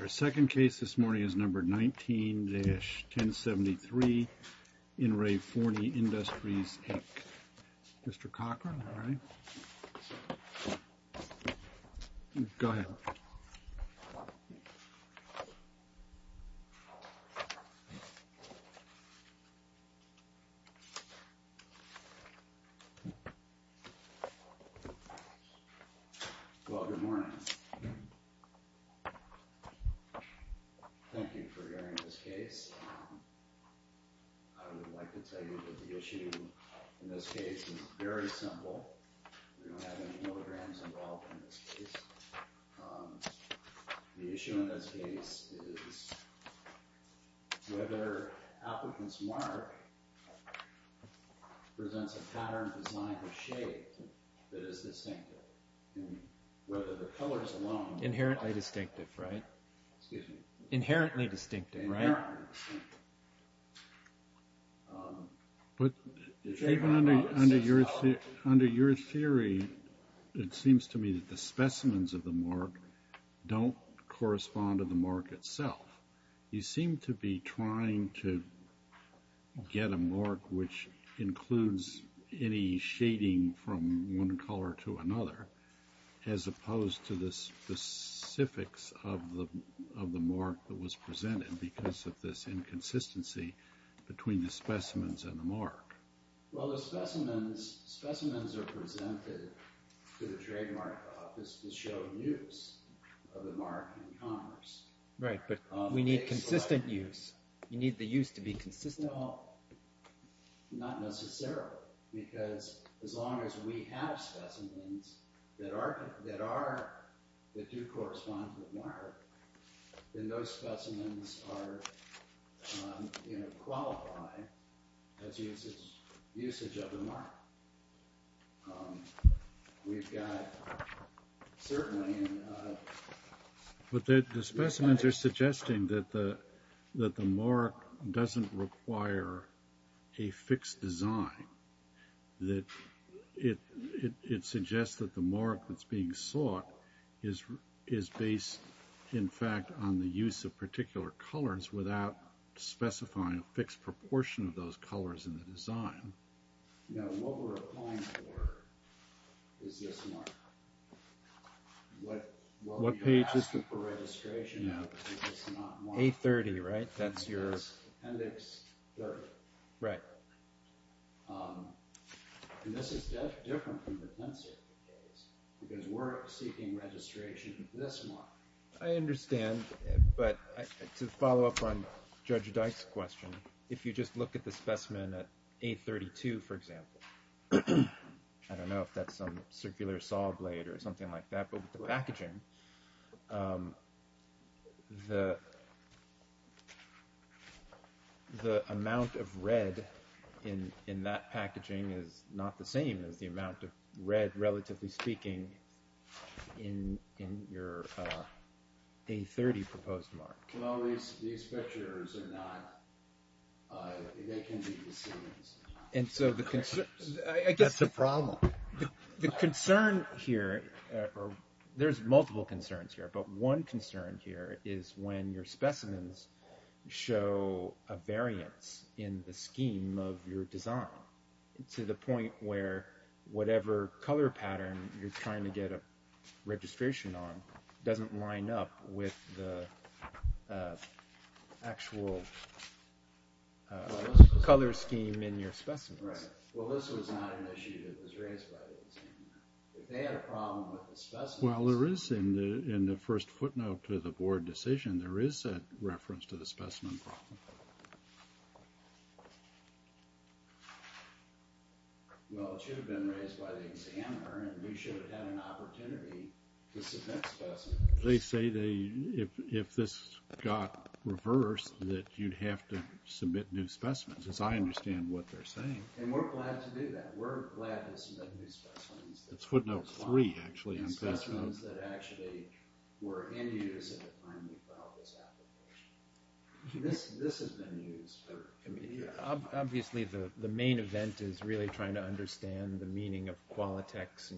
Our second case this morning is number 19-1073, In Re Forney Industries, Inc. Mr. Cochran, all right. Go ahead. Well, good morning. Thank you for hearing this case. I would like to tell you that the issue in this case is very simple. We don't have any holograms involved in this case. The issue in this case is whether applicants mark presents a pattern, design, or shape that is distinctive. Inherently distinctive, right? Inherently distinctive, right? Even under your theory, it seems to me that the specimens of the mark don't correspond to the mark itself. You seem to be trying to get a mark which includes any shading from one color to another, as opposed to the specifics of the mark that was presented because of this inconsistency between the specimens and the mark. Well, the specimens are presented to the trademark office to show use of the mark in commerce. Right, but we need consistent use. You need the use to be consistent. No, not necessarily, because as long as we have specimens that do correspond to the mark, then those specimens are qualified as usage of the mark. We've got, certainly... But the specimens are suggesting that the mark doesn't require a fixed design. It suggests that the mark that's being sought is based, in fact, on the use of particular colors without specifying a fixed proportion of those colors in the design. No, what we're applying for is this mark. What we are asking for registration of is not marked. A30, right? That's your... Appendix 30. Right. And this is different from the pencil case, because we're seeking registration of this mark. I understand, but to follow up on Judge Dyke's question, if you just look at the specimen at A32, for example, I don't know if that's some circular saw blade or something like that, but with the packaging, the amount of red in that packaging is not the same as the amount of red, relatively speaking, in your A30 proposed mark. Well, these pictures are not... They can be decedents. And so the concern... That's the problem. The concern here... There's multiple concerns here, but one concern here is when your specimens show a variance in the scheme of your design to the point where whatever color pattern you're trying to get a registration on doesn't line up with the actual color scheme in your specimens. Right. Well, this was not an issue that was raised by the examiner. If they had a problem with the specimen... Well, there is, in the first footnote to the board decision, there is a reference to the specimen problem. Well, it should have been raised by the examiner, and we should have had an opportunity to submit specimens. They say if this got reversed that you'd have to submit new specimens, as I understand what they're saying. And we're glad to do that. We're glad to submit new specimens. That's footnote three, actually. Specimens that actually were in use at the time we filed this application. This has been used for... Obviously, the main event is really trying to understand the meaning of Qualitex,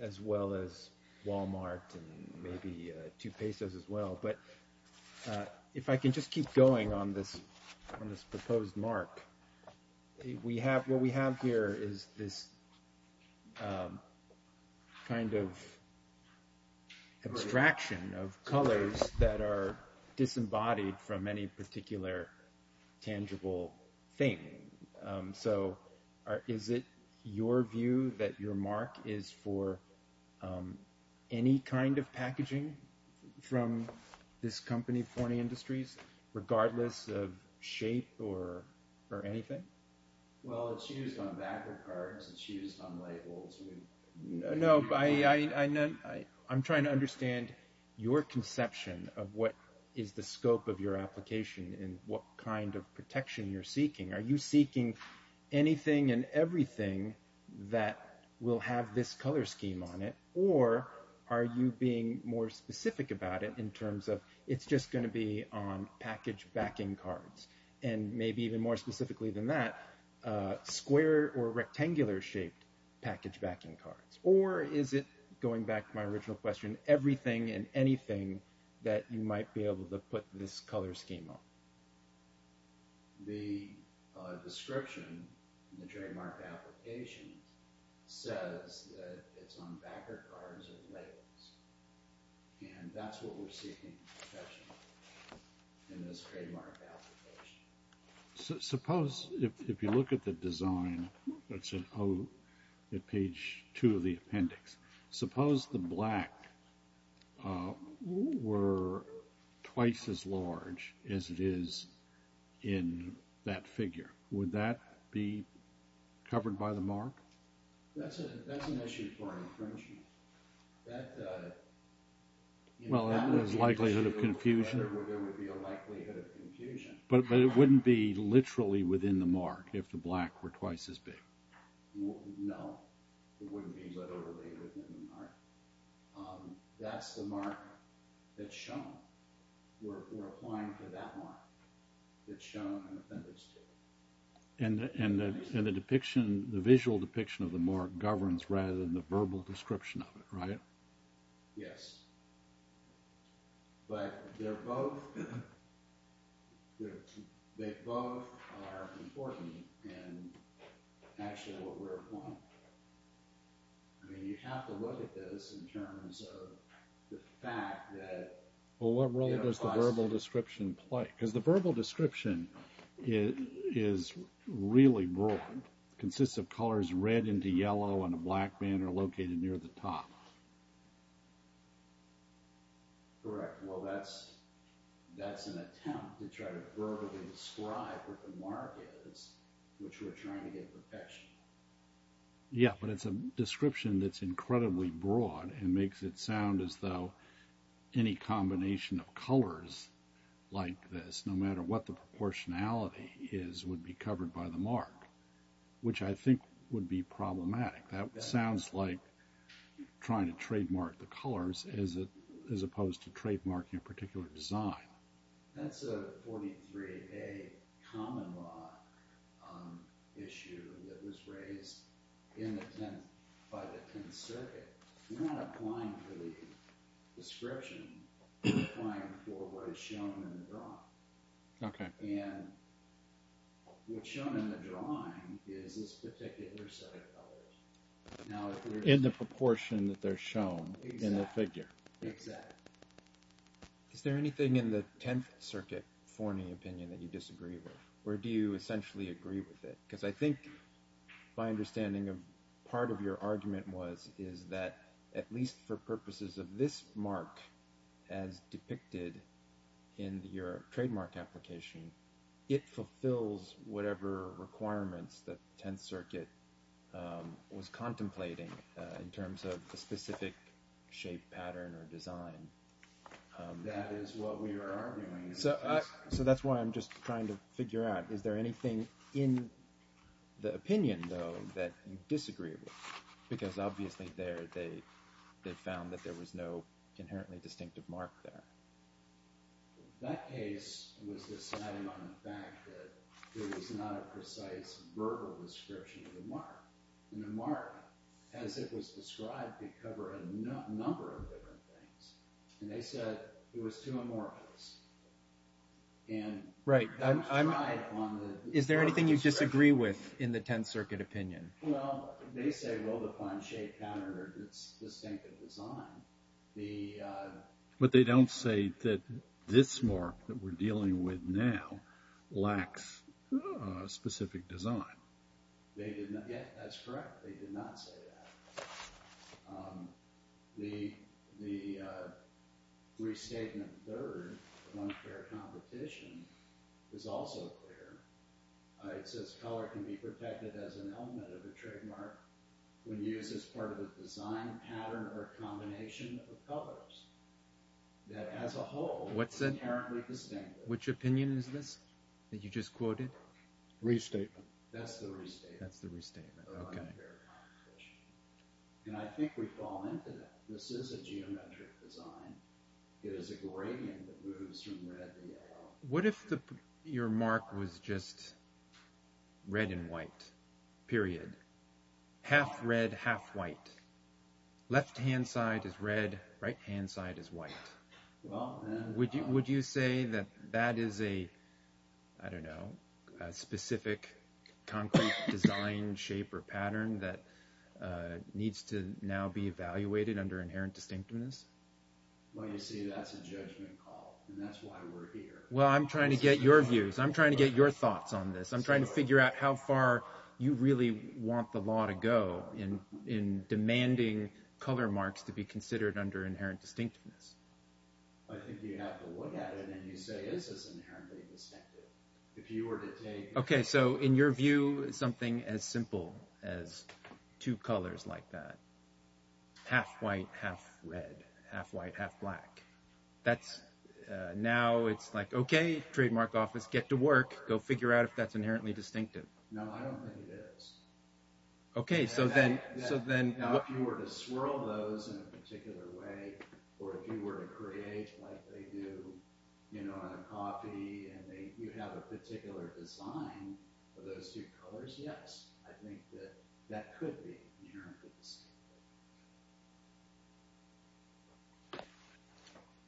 as well as Walmart, and maybe Tupesos as well. But if I can just keep going on this proposed mark, what we have here is this kind of abstraction of colors that are disembodied from any particular tangible thing. Is it your view that your mark is for any kind of packaging from this company, Pony Industries, regardless of shape or anything? Well, it's used on backup cards. It's used on labels. No, I'm trying to understand your conception of what is the scope of your application and what kind of protection you're seeking. Are you seeking anything and everything that will have this color scheme on it? Or are you being more specific about it in terms of it's just going to be on package backing cards? And maybe even more specifically than that, square or rectangular shaped package backing cards? Or is it, going back to my original question, everything and anything that you might be able to put this color scheme on? The description in the trademark application says that it's on backer cards or labels. And that's what we're seeking protection in this trademark application. Suppose, if you look at the design, it's on page two of the appendix. Suppose the black were twice as large as it is in that figure. Would that be covered by the mark? That's an issue for infringement. Well, there's a likelihood of confusion. There would be a likelihood of confusion. But it wouldn't be literally within the mark if the black were twice as big? No, it wouldn't be literally within the mark. That's the mark that's shown. We're applying for that mark that's shown on the appendix. And the visual depiction of the mark governs rather than the verbal description of it, right? Yes. But they both are important in actually what we're applying. I mean, you have to look at this in terms of the fact that... Well, what role does the verbal description play? Because the verbal description is really broad. It consists of colors red into yellow and a black banner located near the top. Correct. Well, that's an attempt to try to verbally describe what the mark is, which we're trying to get protection. Yeah, but it's a description that's incredibly broad and makes it sound as though any combination of colors like this, no matter what the proportionality is, would be covered by the mark, which I think would be problematic. That sounds like trying to trademark the colors as opposed to trademarking a particular design. That's a 43A common law issue that was raised in the 10th by the 10th circuit. We're not applying for the description. We're applying for what is shown in the drawing. And what's shown in the drawing is this particular set of colors. In the proportion that they're shown in the figure. Exactly. Is there anything in the 10th circuit, for any opinion that you disagree with? Or do you essentially agree with it? Because I think my understanding of part of your argument was, is that at least for purposes of this mark, as depicted in your trademark application, it fulfills whatever requirements the 10th circuit was contemplating in terms of a specific shape, pattern, or design. That is what we are arguing. So that's why I'm just trying to figure out, is there anything in the opinion, though, that you disagree with? Because obviously there they found that there was no inherently distinctive mark there. That case was deciding on the fact that there was not a precise verbal description of the mark. And the mark, as it was described, could cover a number of different things. And they said it was too amorphous. Right. Is there anything you disagree with in the 10th circuit opinion? Well, they say, well, the planche countered its distinctive design. But they don't say that this mark that we're dealing with now lacks a specific design. Yeah, that's correct. They did not say that. The restatement third of unfair competition is also clear. It says color can be protected as an element of the trademark when used as part of a design pattern or combination of colors. That as a whole, it's inherently distinctive. Which opinion is this that you just quoted? Restatement. That's the restatement of unfair competition. And I think we've fallen into that. This is a geometric design. It is a gradient that moves from red to yellow. What if your mark was just red and white, period? Half red, half white. Left-hand side is red, right-hand side is white. Would you say that that is a, I don't know, a specific concrete design shape or pattern that needs to now be evaluated under inherent distinctiveness? Well, you see, that's a judgment call. And that's why we're here. Well, I'm trying to get your views. I'm trying to get your thoughts on this. I'm trying to figure out how far you really want the law to go in demanding color marks to be considered under inherent distinctiveness. I think you have to look at it and you say, is this inherently distinctive? Okay, so in your view, something as simple as two colors like that, half white, half red, half white, half black. Now it's like, okay, trademark office, get to work, go figure out if that's inherently distinctive. No, I don't think it is. Okay, so then... Now, if you were to swirl those in a particular way, or if you were to create like they do on a copy and you have a particular design for those two colors, yes. I think that that could be inherently distinctive.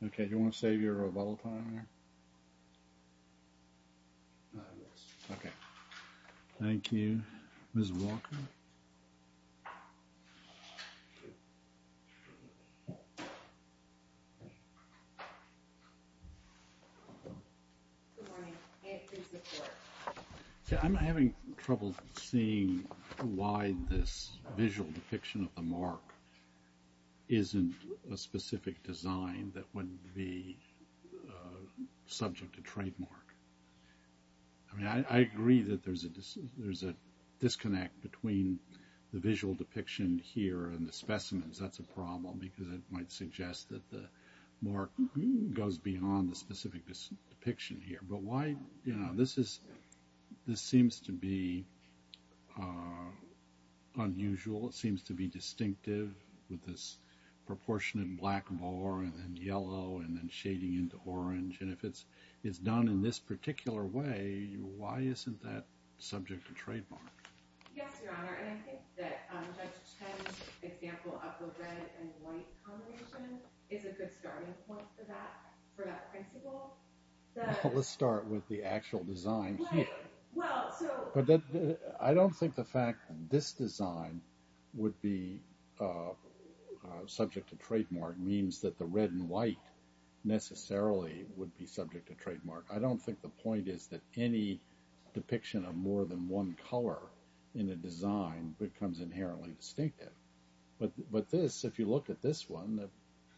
Okay, do you want to save your bottle time here? Yes. Okay. Thank you. Ms. Walker? Good morning. Isn't a specific design that wouldn't be subject to trademark. I mean, I agree that there's a disconnect between the visual depiction here and the specimens. That's a problem because it might suggest that the mark goes beyond the specific depiction here. But why, you know, this is, this seems to be unusual, it seems to be distinctive with this proportionate black more than yellow and then shading into orange and if it's, it's done in this particular way, why isn't that subject to trademark? Yes, Your Honor, and I think that Judge Chen's example of the red and white combination is a good starting point for that, for that principle. Let's start with the actual design here. Well, so. I don't think the fact that this design would be subject to trademark means that the red and white necessarily would be subject to trademark. I don't think the point is that any depiction of more than one color in a design becomes inherently distinctive. But this, if you look at this one,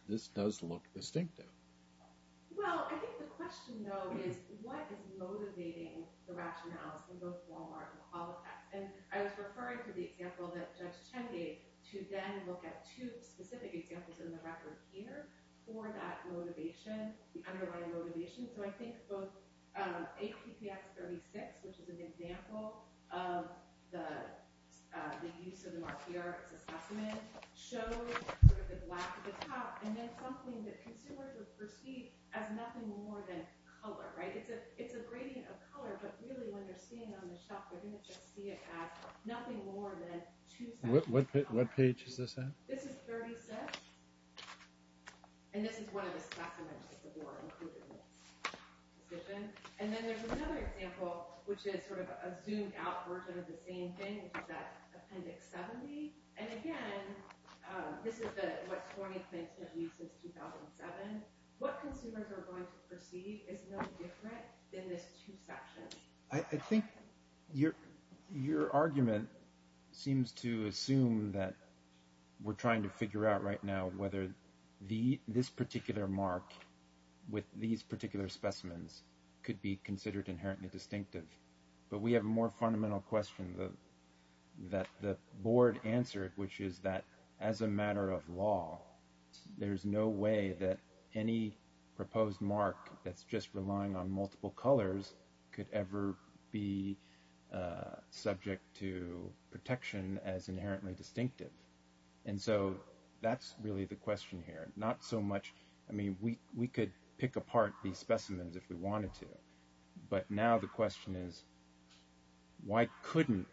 this does look distinctive. Well, I think the question, though, is what is motivating the rationales in both Walmart and Holofax? And I was referring to the example that Judge Chen gave to then look at two specific examples in the record here for that motivation, the underlying motivation. So I think both APTX 36, which is an example of the use of the mark here as a specimen, shows sort of the black at the top and then something that consumers would perceive as nothing more than color, right? It's a gradient of color, but really when they're seeing it on the shelf, they're going to just see it as nothing more than two sets of color. What page is this in? This is 36, and this is one of the specimens that the board included in the petition. And then there's another example, which is sort of a zoomed out version of the same thing, which is that Appendix 70. And again, this is the, what, 20th, 19th week since 2007. What consumers are going to perceive is no different than this two sections. I think your argument seems to assume that we're trying to figure out right now whether this particular mark with these particular specimens could be considered inherently distinctive. But we have a more fundamental question that the board answered, which is that as a matter of law, there's no way that any proposed mark that's just relying on multiple colors could ever be subject to protection as inherently distinctive. And so that's really the question here. I mean, we could pick apart these specimens if we wanted to, but now the question is, why couldn't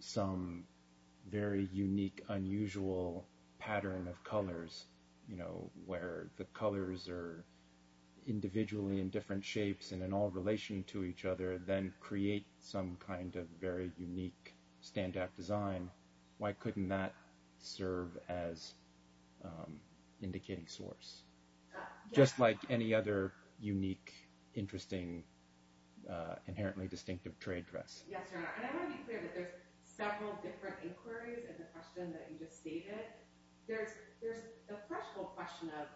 some very unique, unusual pattern of colors, where the colors are individually in different shapes and in all relation to each other, then create some kind of very unique standout design? Why couldn't that serve as indicating source? Just like any other unique, interesting, inherently distinctive trade dress. And I want to be clear that there's several different inquiries in the question that you just stated. There's a threshold question of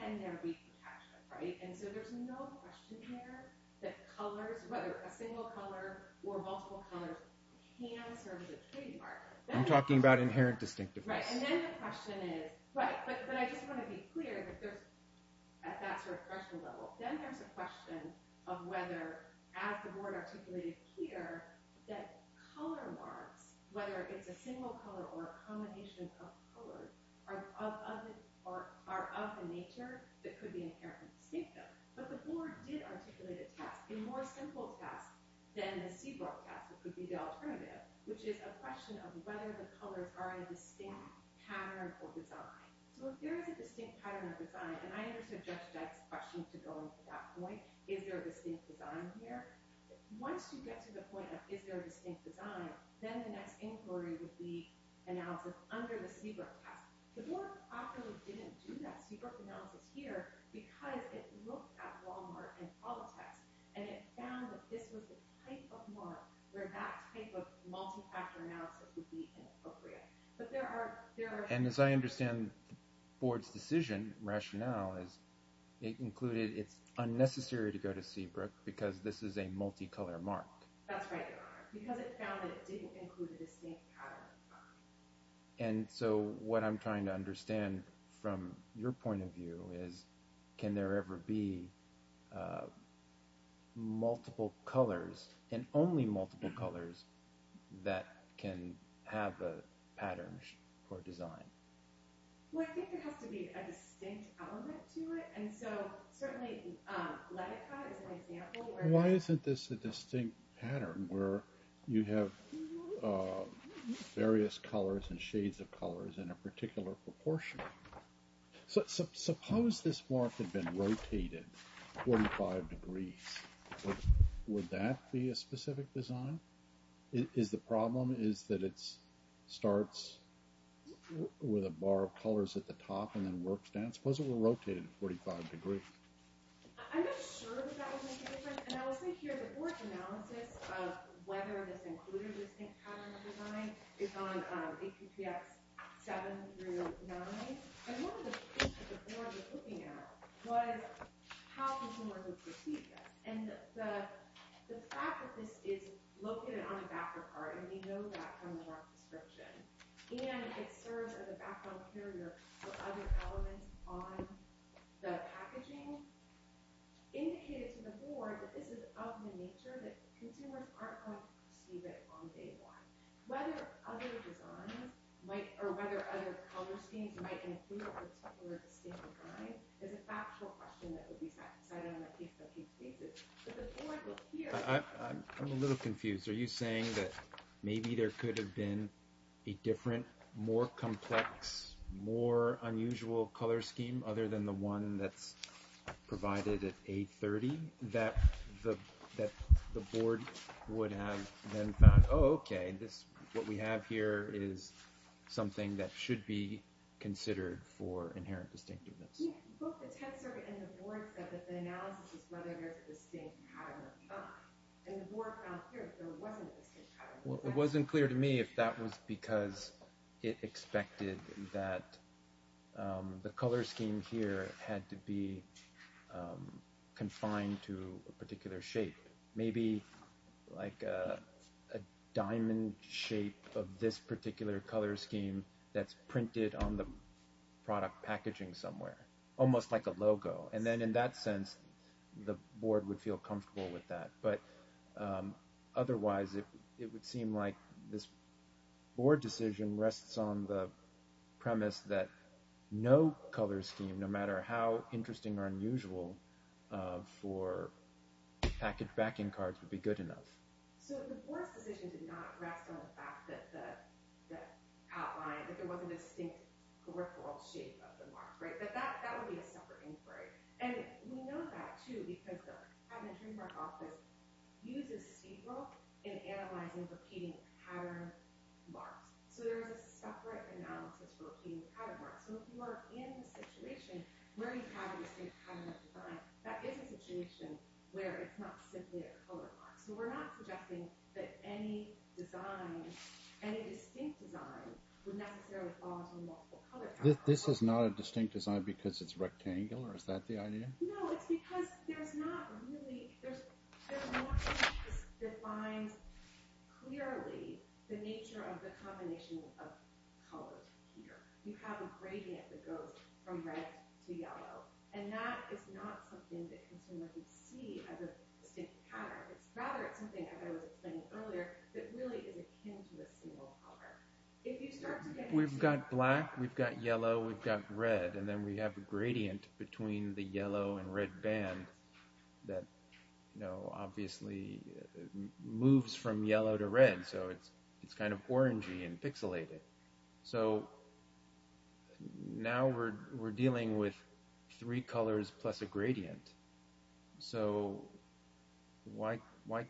can there be detachment, right? And so there's no question here that colors, whether a single color or multiple colors, can serve as a trade marker. I'm talking about inherent distinctiveness. But I just want to be clear that at that sort of threshold level, then there's a question of whether, as the board articulated here, that color marks, whether it's a single color or a combination of colors, are of a nature that could be inherently distinctive. But the board did articulate a test, a more simple test, than the Seabrook test, which would be the alternative, which is a question of whether the colors are a distinct pattern or design. So if there is a distinct pattern or design, and I understand Judge Dyke's question to go into that point, is there a distinct design here? Once you get to the point of is there a distinct design, then the next inquiry would be analysis under the Seabrook test. The board popularly didn't do that Seabrook analysis here because it looked at Walmart and Politech, and it found that this was the type of mark where that type of multi-factor analysis would be inappropriate. But there are... And as I understand the board's decision rationale, it included it's unnecessary to go to Seabrook because this is a multi-color mark. That's right. Because it found that it didn't include a distinct pattern. And so what I'm trying to understand from your point of view is can there ever be multiple colors, and only multiple colors, that can have a pattern or design? Well, I think there has to be a distinct element to it, and so certainly Latica is an example where... Why isn't this a distinct pattern where you have various colors and shades of colors in a particular proportion? Suppose this mark had been rotated 45 degrees. Would that be a specific design? Is the problem is that it starts with a bar of colors at the top and then works down? Suppose it were rotated 45 degrees? I'm not sure that that would make a difference. And I will say here, the board's analysis of whether this included a distinct pattern or design is on AQCX 7 through 9. And one of the things that the board was looking at was how can Walmart just repeat this? And the fact that this is located on a backer card, and we know that from Walmart's description, and it serves as a background carrier for other elements on the packaging, indicated to the board that this is of the nature that consumers aren't going to perceive it on day one. Whether other designs, or whether other color schemes might include a particular distinct design is a factual question that would be satisfied on a case-by-case basis. But the board will hear... I'm a little confused. Are you saying that maybe there could have been a different, more complex, more unusual color scheme other than the one that's provided at A30? That the board would have then found, oh, okay, what we have here is something that should be considered for inherent distinctiveness. Both the 10th Circuit and the board said that the analysis is whether there's a distinct pattern or not. And the board found here that there wasn't a distinct pattern. It wasn't clear to me if that was because it expected that the color scheme here had to be confined to a particular shape. Maybe like a diamond shape of this particular color scheme that's printed on the product packaging somewhere. Almost like a logo. And then in that sense, the board would feel comfortable with that. But otherwise, it would seem like this board decision rests on the premise that no color scheme, no matter how interesting or unusual, for package backing cards would be good enough. So the board's decision did not rest on the fact that there wasn't a distinct peripheral shape of the mark, right? But that would be a separate inquiry. And we know that, too, because the Patent and Trademark Office uses STFL in analyzing repeating pattern marks. So there's a separate analysis for repeating pattern marks. So if you are in a situation where you have a distinct pattern of design, that is a situation where it's not simply a color mark. So we're not projecting that any design, any distinct design, would necessarily fall into a multiple color pattern. This is not a distinct design because it's rectangular? Is that the idea? No, it's because there's not really – there's more than just defines clearly the nature of the combination of colors here. You have a gradient that goes from red to yellow. And that is not something that consumers would see as a distinct pattern. Rather, it's something, as I was explaining earlier, that really is akin to a single color. We've got black. We've got yellow. We've got red. And then we have a gradient between the yellow and red band that obviously moves from yellow to red. So it's kind of orangey and pixelated. So now we're dealing with three colors plus a gradient. So why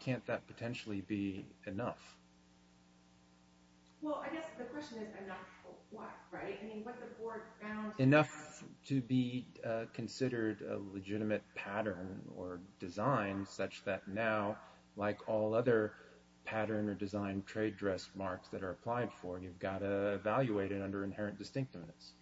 can't that potentially be enough? Well, I guess the question is enough of what, right? I mean, what the board found – Enough to be considered a legitimate pattern or design such that now, like all other pattern or design trade dress marks that are applied for, you've got to evaluate it under inherent distinctiveness.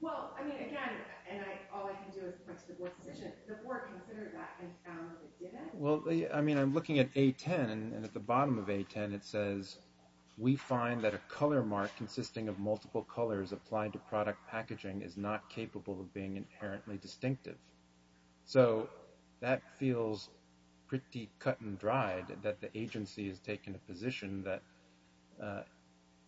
Well, I mean, again, and all I can do is press the board position. The board considered that and found it didn't? Well, I mean, I'm looking at A10, and at the bottom of A10, it says, We find that a color mark consisting of multiple colors applied to product packaging is not capable of being inherently distinctive. So that feels pretty cut and dried that the agency has taken a position that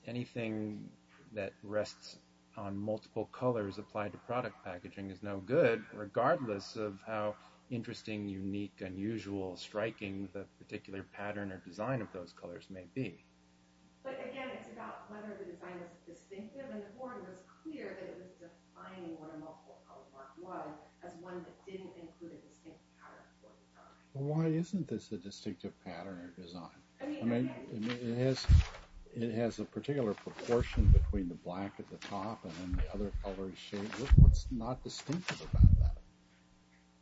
anything that rests on multiple colors applied to product packaging is no good, regardless of how interesting, unique, unusual, striking the particular pattern or design of those colors may be. But again, it's about whether the design was distinctive, and the board was clear that it was defining what a multiple color mark was as one that didn't include a distinctive pattern for the product. Well, why isn't this a distinctive pattern or design? I mean, it has a particular proportion between the black at the top and then the other colored shades. What's not distinctive about that?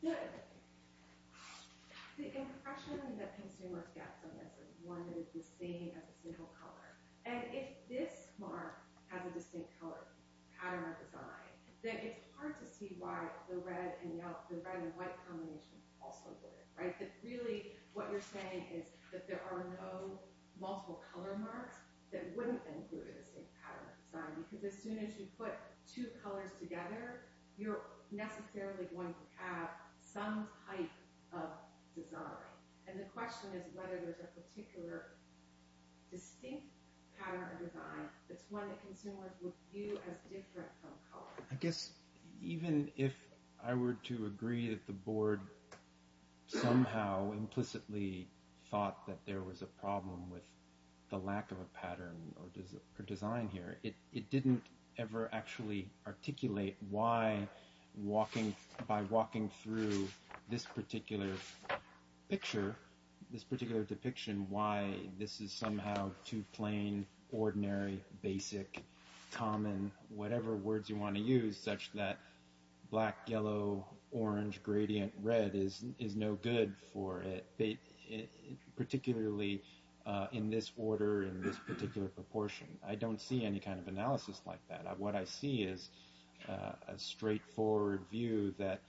Good. The impression that consumers get from this is one that is the same as a single color. And if this mark has a distinct color pattern or design, then it's hard to see why the red and white combinations also do it. Really, what you're saying is that there are no multiple color marks that wouldn't include a distinct pattern or design, because as soon as you put two colors together, you're necessarily going to have some type of design. And the question is whether there's a particular distinct pattern or design that's one that consumers would view as different from color. I guess even if I were to agree that the board somehow implicitly thought that there was a problem with the lack of a pattern or design here, it didn't ever actually articulate why, by walking through this particular picture, this particular depiction, why this is somehow too plain, ordinary, basic, common, whatever words you want to use, such that black, yellow, orange, gradient, red is no good for it, particularly in this order, in this particular proportion. I don't see any kind of analysis like that. What I see is a straightforward view that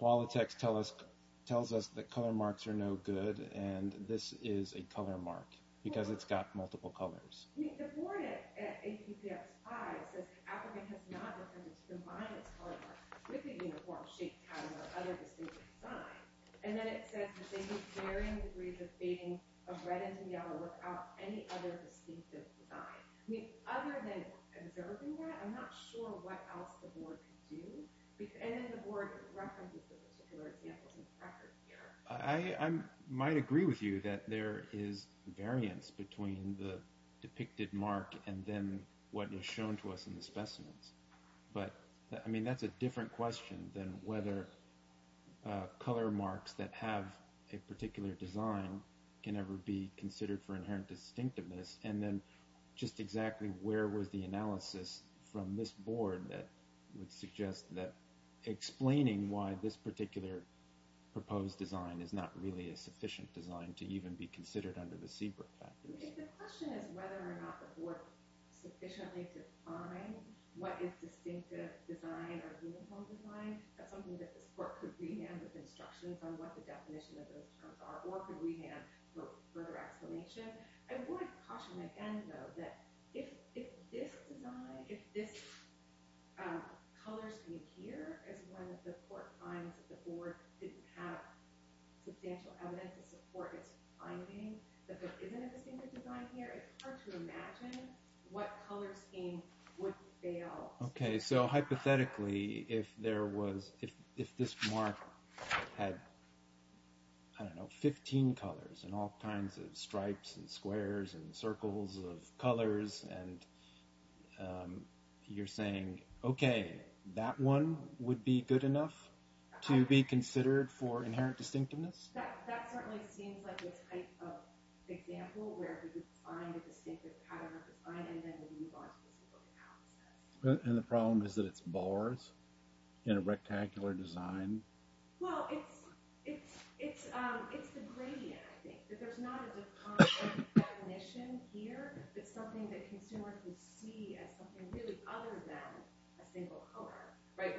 Qualitex tells us that color marks are no good, and this is a color mark, because it's got multiple colors. I might agree with you that there is variance between the depicted mark and then what is shown to us in the specimens, but that's a different question than whether color marks that have a particular design can ever be considered for inherent distinctiveness, and then just exactly where was the analysis from this board that would suggest that explaining why this particular proposed design is not really a sufficient design to even be considered under the Seabrook factors? If the question is whether or not the board sufficiently defined what is distinctive design or uniform design, that's something that this court could re-hand with instructions on what the definition of those terms are, or could re-hand for further explanation. I would caution again, though, that if this color scheme here is one that the court finds that the board didn't have substantial evidence to support its finding that there isn't a distinctive design here, it's hard to imagine what color scheme would fail. Okay, so hypothetically, if this mark had 15 colors and all kinds of stripes and squares and circles of colors, and you're saying, okay, that one would be good enough to be considered for inherent distinctiveness? That certainly seems like the type of example where we could find a distinctive pattern of design and then move on to the Seabrook analysis. And the problem is that it's bars in a rectangular design? Well, it's the gradient, I think, that there's not a defined definition here. It's something that consumers would see as something really other than a single color.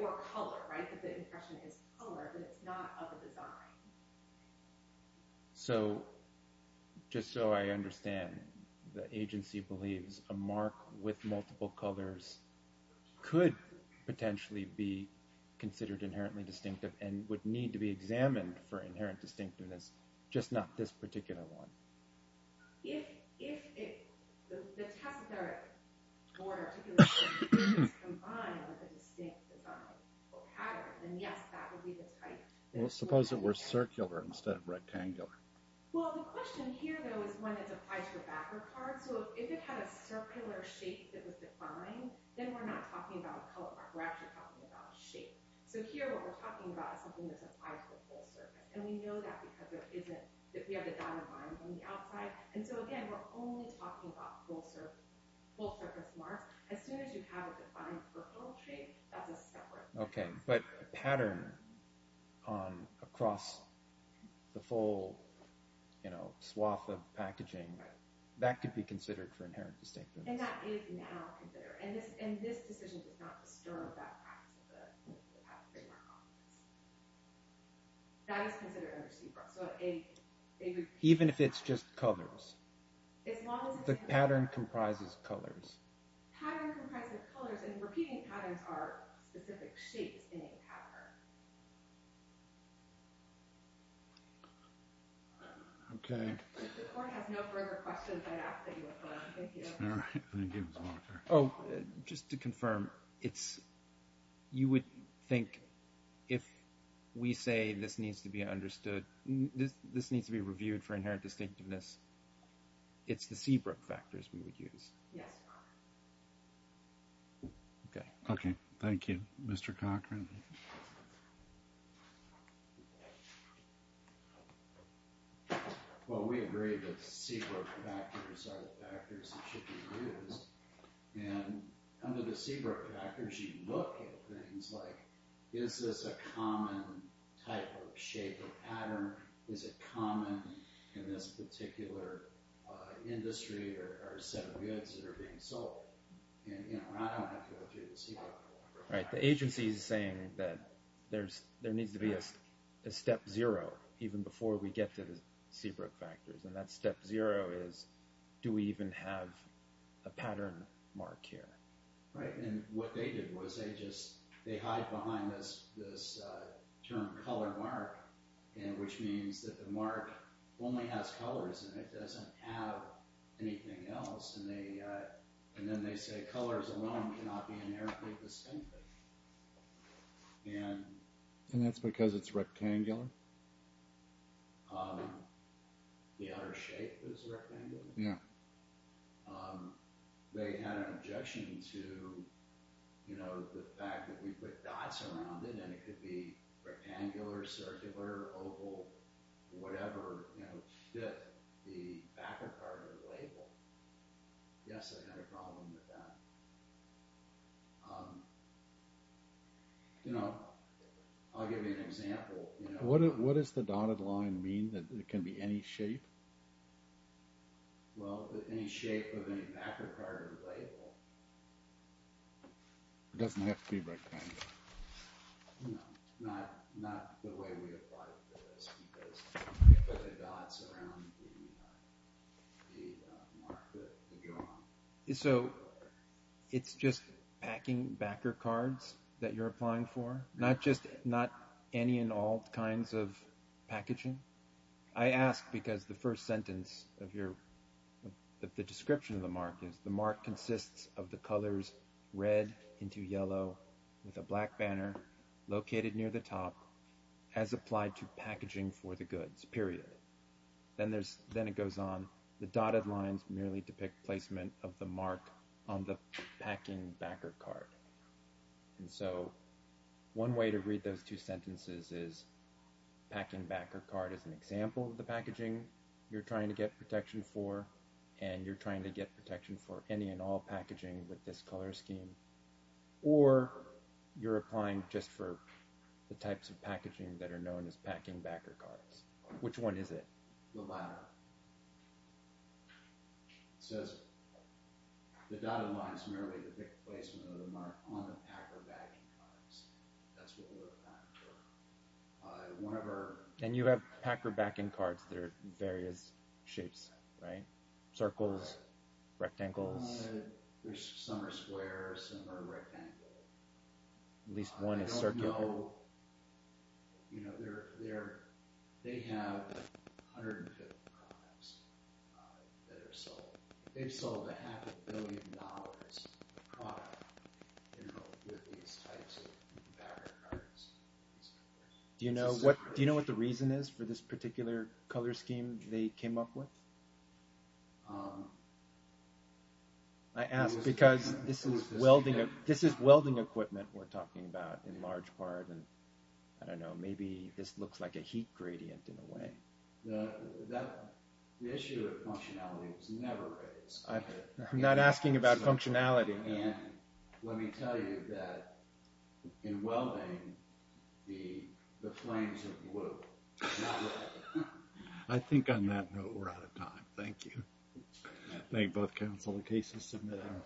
Or color, right? Because the impression is color, but it's not of a design. So, just so I understand, the agency believes a mark with multiple colors could potentially be considered inherently distinctive and would need to be examined for inherent distinctiveness, just not this particular one. If the tessiteric board articulation is combined with a distinct pattern, then yes, that would be the type. Well, suppose it were circular instead of rectangular. Well, the question here, though, is when it's applied to a backer card. So, if it had a circular shape that was defined, then we're not talking about color, we're actually talking about shape. So, here what we're talking about is something that's applied to the whole surface. And we know that because we have the dotted lines on the outside. And so, again, we're only talking about full-surface mark. As soon as you have it defined for poetry, that's a separate thing. Okay, but pattern across the full swath of packaging, that could be considered for inherent distinctiveness. And that is now considered. And this decision does not disturb that fact that it has a big mark on it. That is considered under CBRUX. Even if it's just colors? The pattern comprises colors. Pattern comprises colors, and repeating patterns are specific shapes in a pattern. Okay. If the court has no further questions, I'd ask that you affirm. Thank you. All right, I'm going to give it to the monitor. Oh, just to confirm, you would think if we say this needs to be understood, this needs to be reviewed for inherent distinctiveness, it's the CBRUX factors we would use? Yes. Okay. Okay, thank you. Mr. Cochran? Well, we agree that CBRUX factors are the factors that should be used. And under the CBRUX factors, you look at things like, is this a common type of shape or pattern? Is it common in this particular industry or set of goods that are being sold? And I don't have to go through the CBRUX. Right. The agency is saying that there needs to be a step zero even before we get to the CBRUX factors. And that step zero is, do we even have a pattern mark here? Right. And what they did was they just – they hide behind this term color mark, which means that the mark only has colors in it. It doesn't have anything else. And then they say colors alone cannot be inherently distinctive. And that's because it's rectangular? The outer shape is rectangular? Yeah. They had an objection to, you know, the fact that we put dots around it and it could be rectangular, circular, oval, whatever, you know, fit the backer part of the label. Yes, I had a problem with that. You know, I'll give you an example. What does the dotted line mean? That it can be any shape? Well, any shape of any backer part of the label. It doesn't have to be rectangular. No, not the way we applied for this because we put the dots around the mark that would go on. So it's just packing backer cards that you're applying for? Not just – not any and all kinds of packaging? I ask because the first sentence of your – the description of the mark is the mark consists of the colors red into yellow with a black banner located near the top as applied to packaging for the goods, period. Then it goes on. The dotted lines merely depict placement of the mark on the packing backer card. And so one way to read those two sentences is packing backer card is an example of the packaging you're trying to get protection for and you're trying to get protection for any and all packaging with this color scheme. Or you're applying just for the types of packaging that are known as packing backer cards. Which one is it? The latter. It says the dotted lines merely depict placement of the mark on the packer backing cards. That's what we're applying for. And you have packer backing cards that are various shapes, right? Circles, rectangles. Some are square, some are rectangular. At least one is circular. They have a hundred and fifty products that are sold. They've sold a half a billion dollars worth of product with these types of packing backer cards. Do you know what the reason is for this particular color scheme they came up with? I ask because this is welding equipment we're talking about in large part. And I don't know, maybe this looks like a heat gradient in a way. The issue of functionality was never raised. I'm not asking about functionality. And let me tell you that in welding the flames are blue. I think on that note we're out of time. Thank you. I thank both counsel and cases submitted.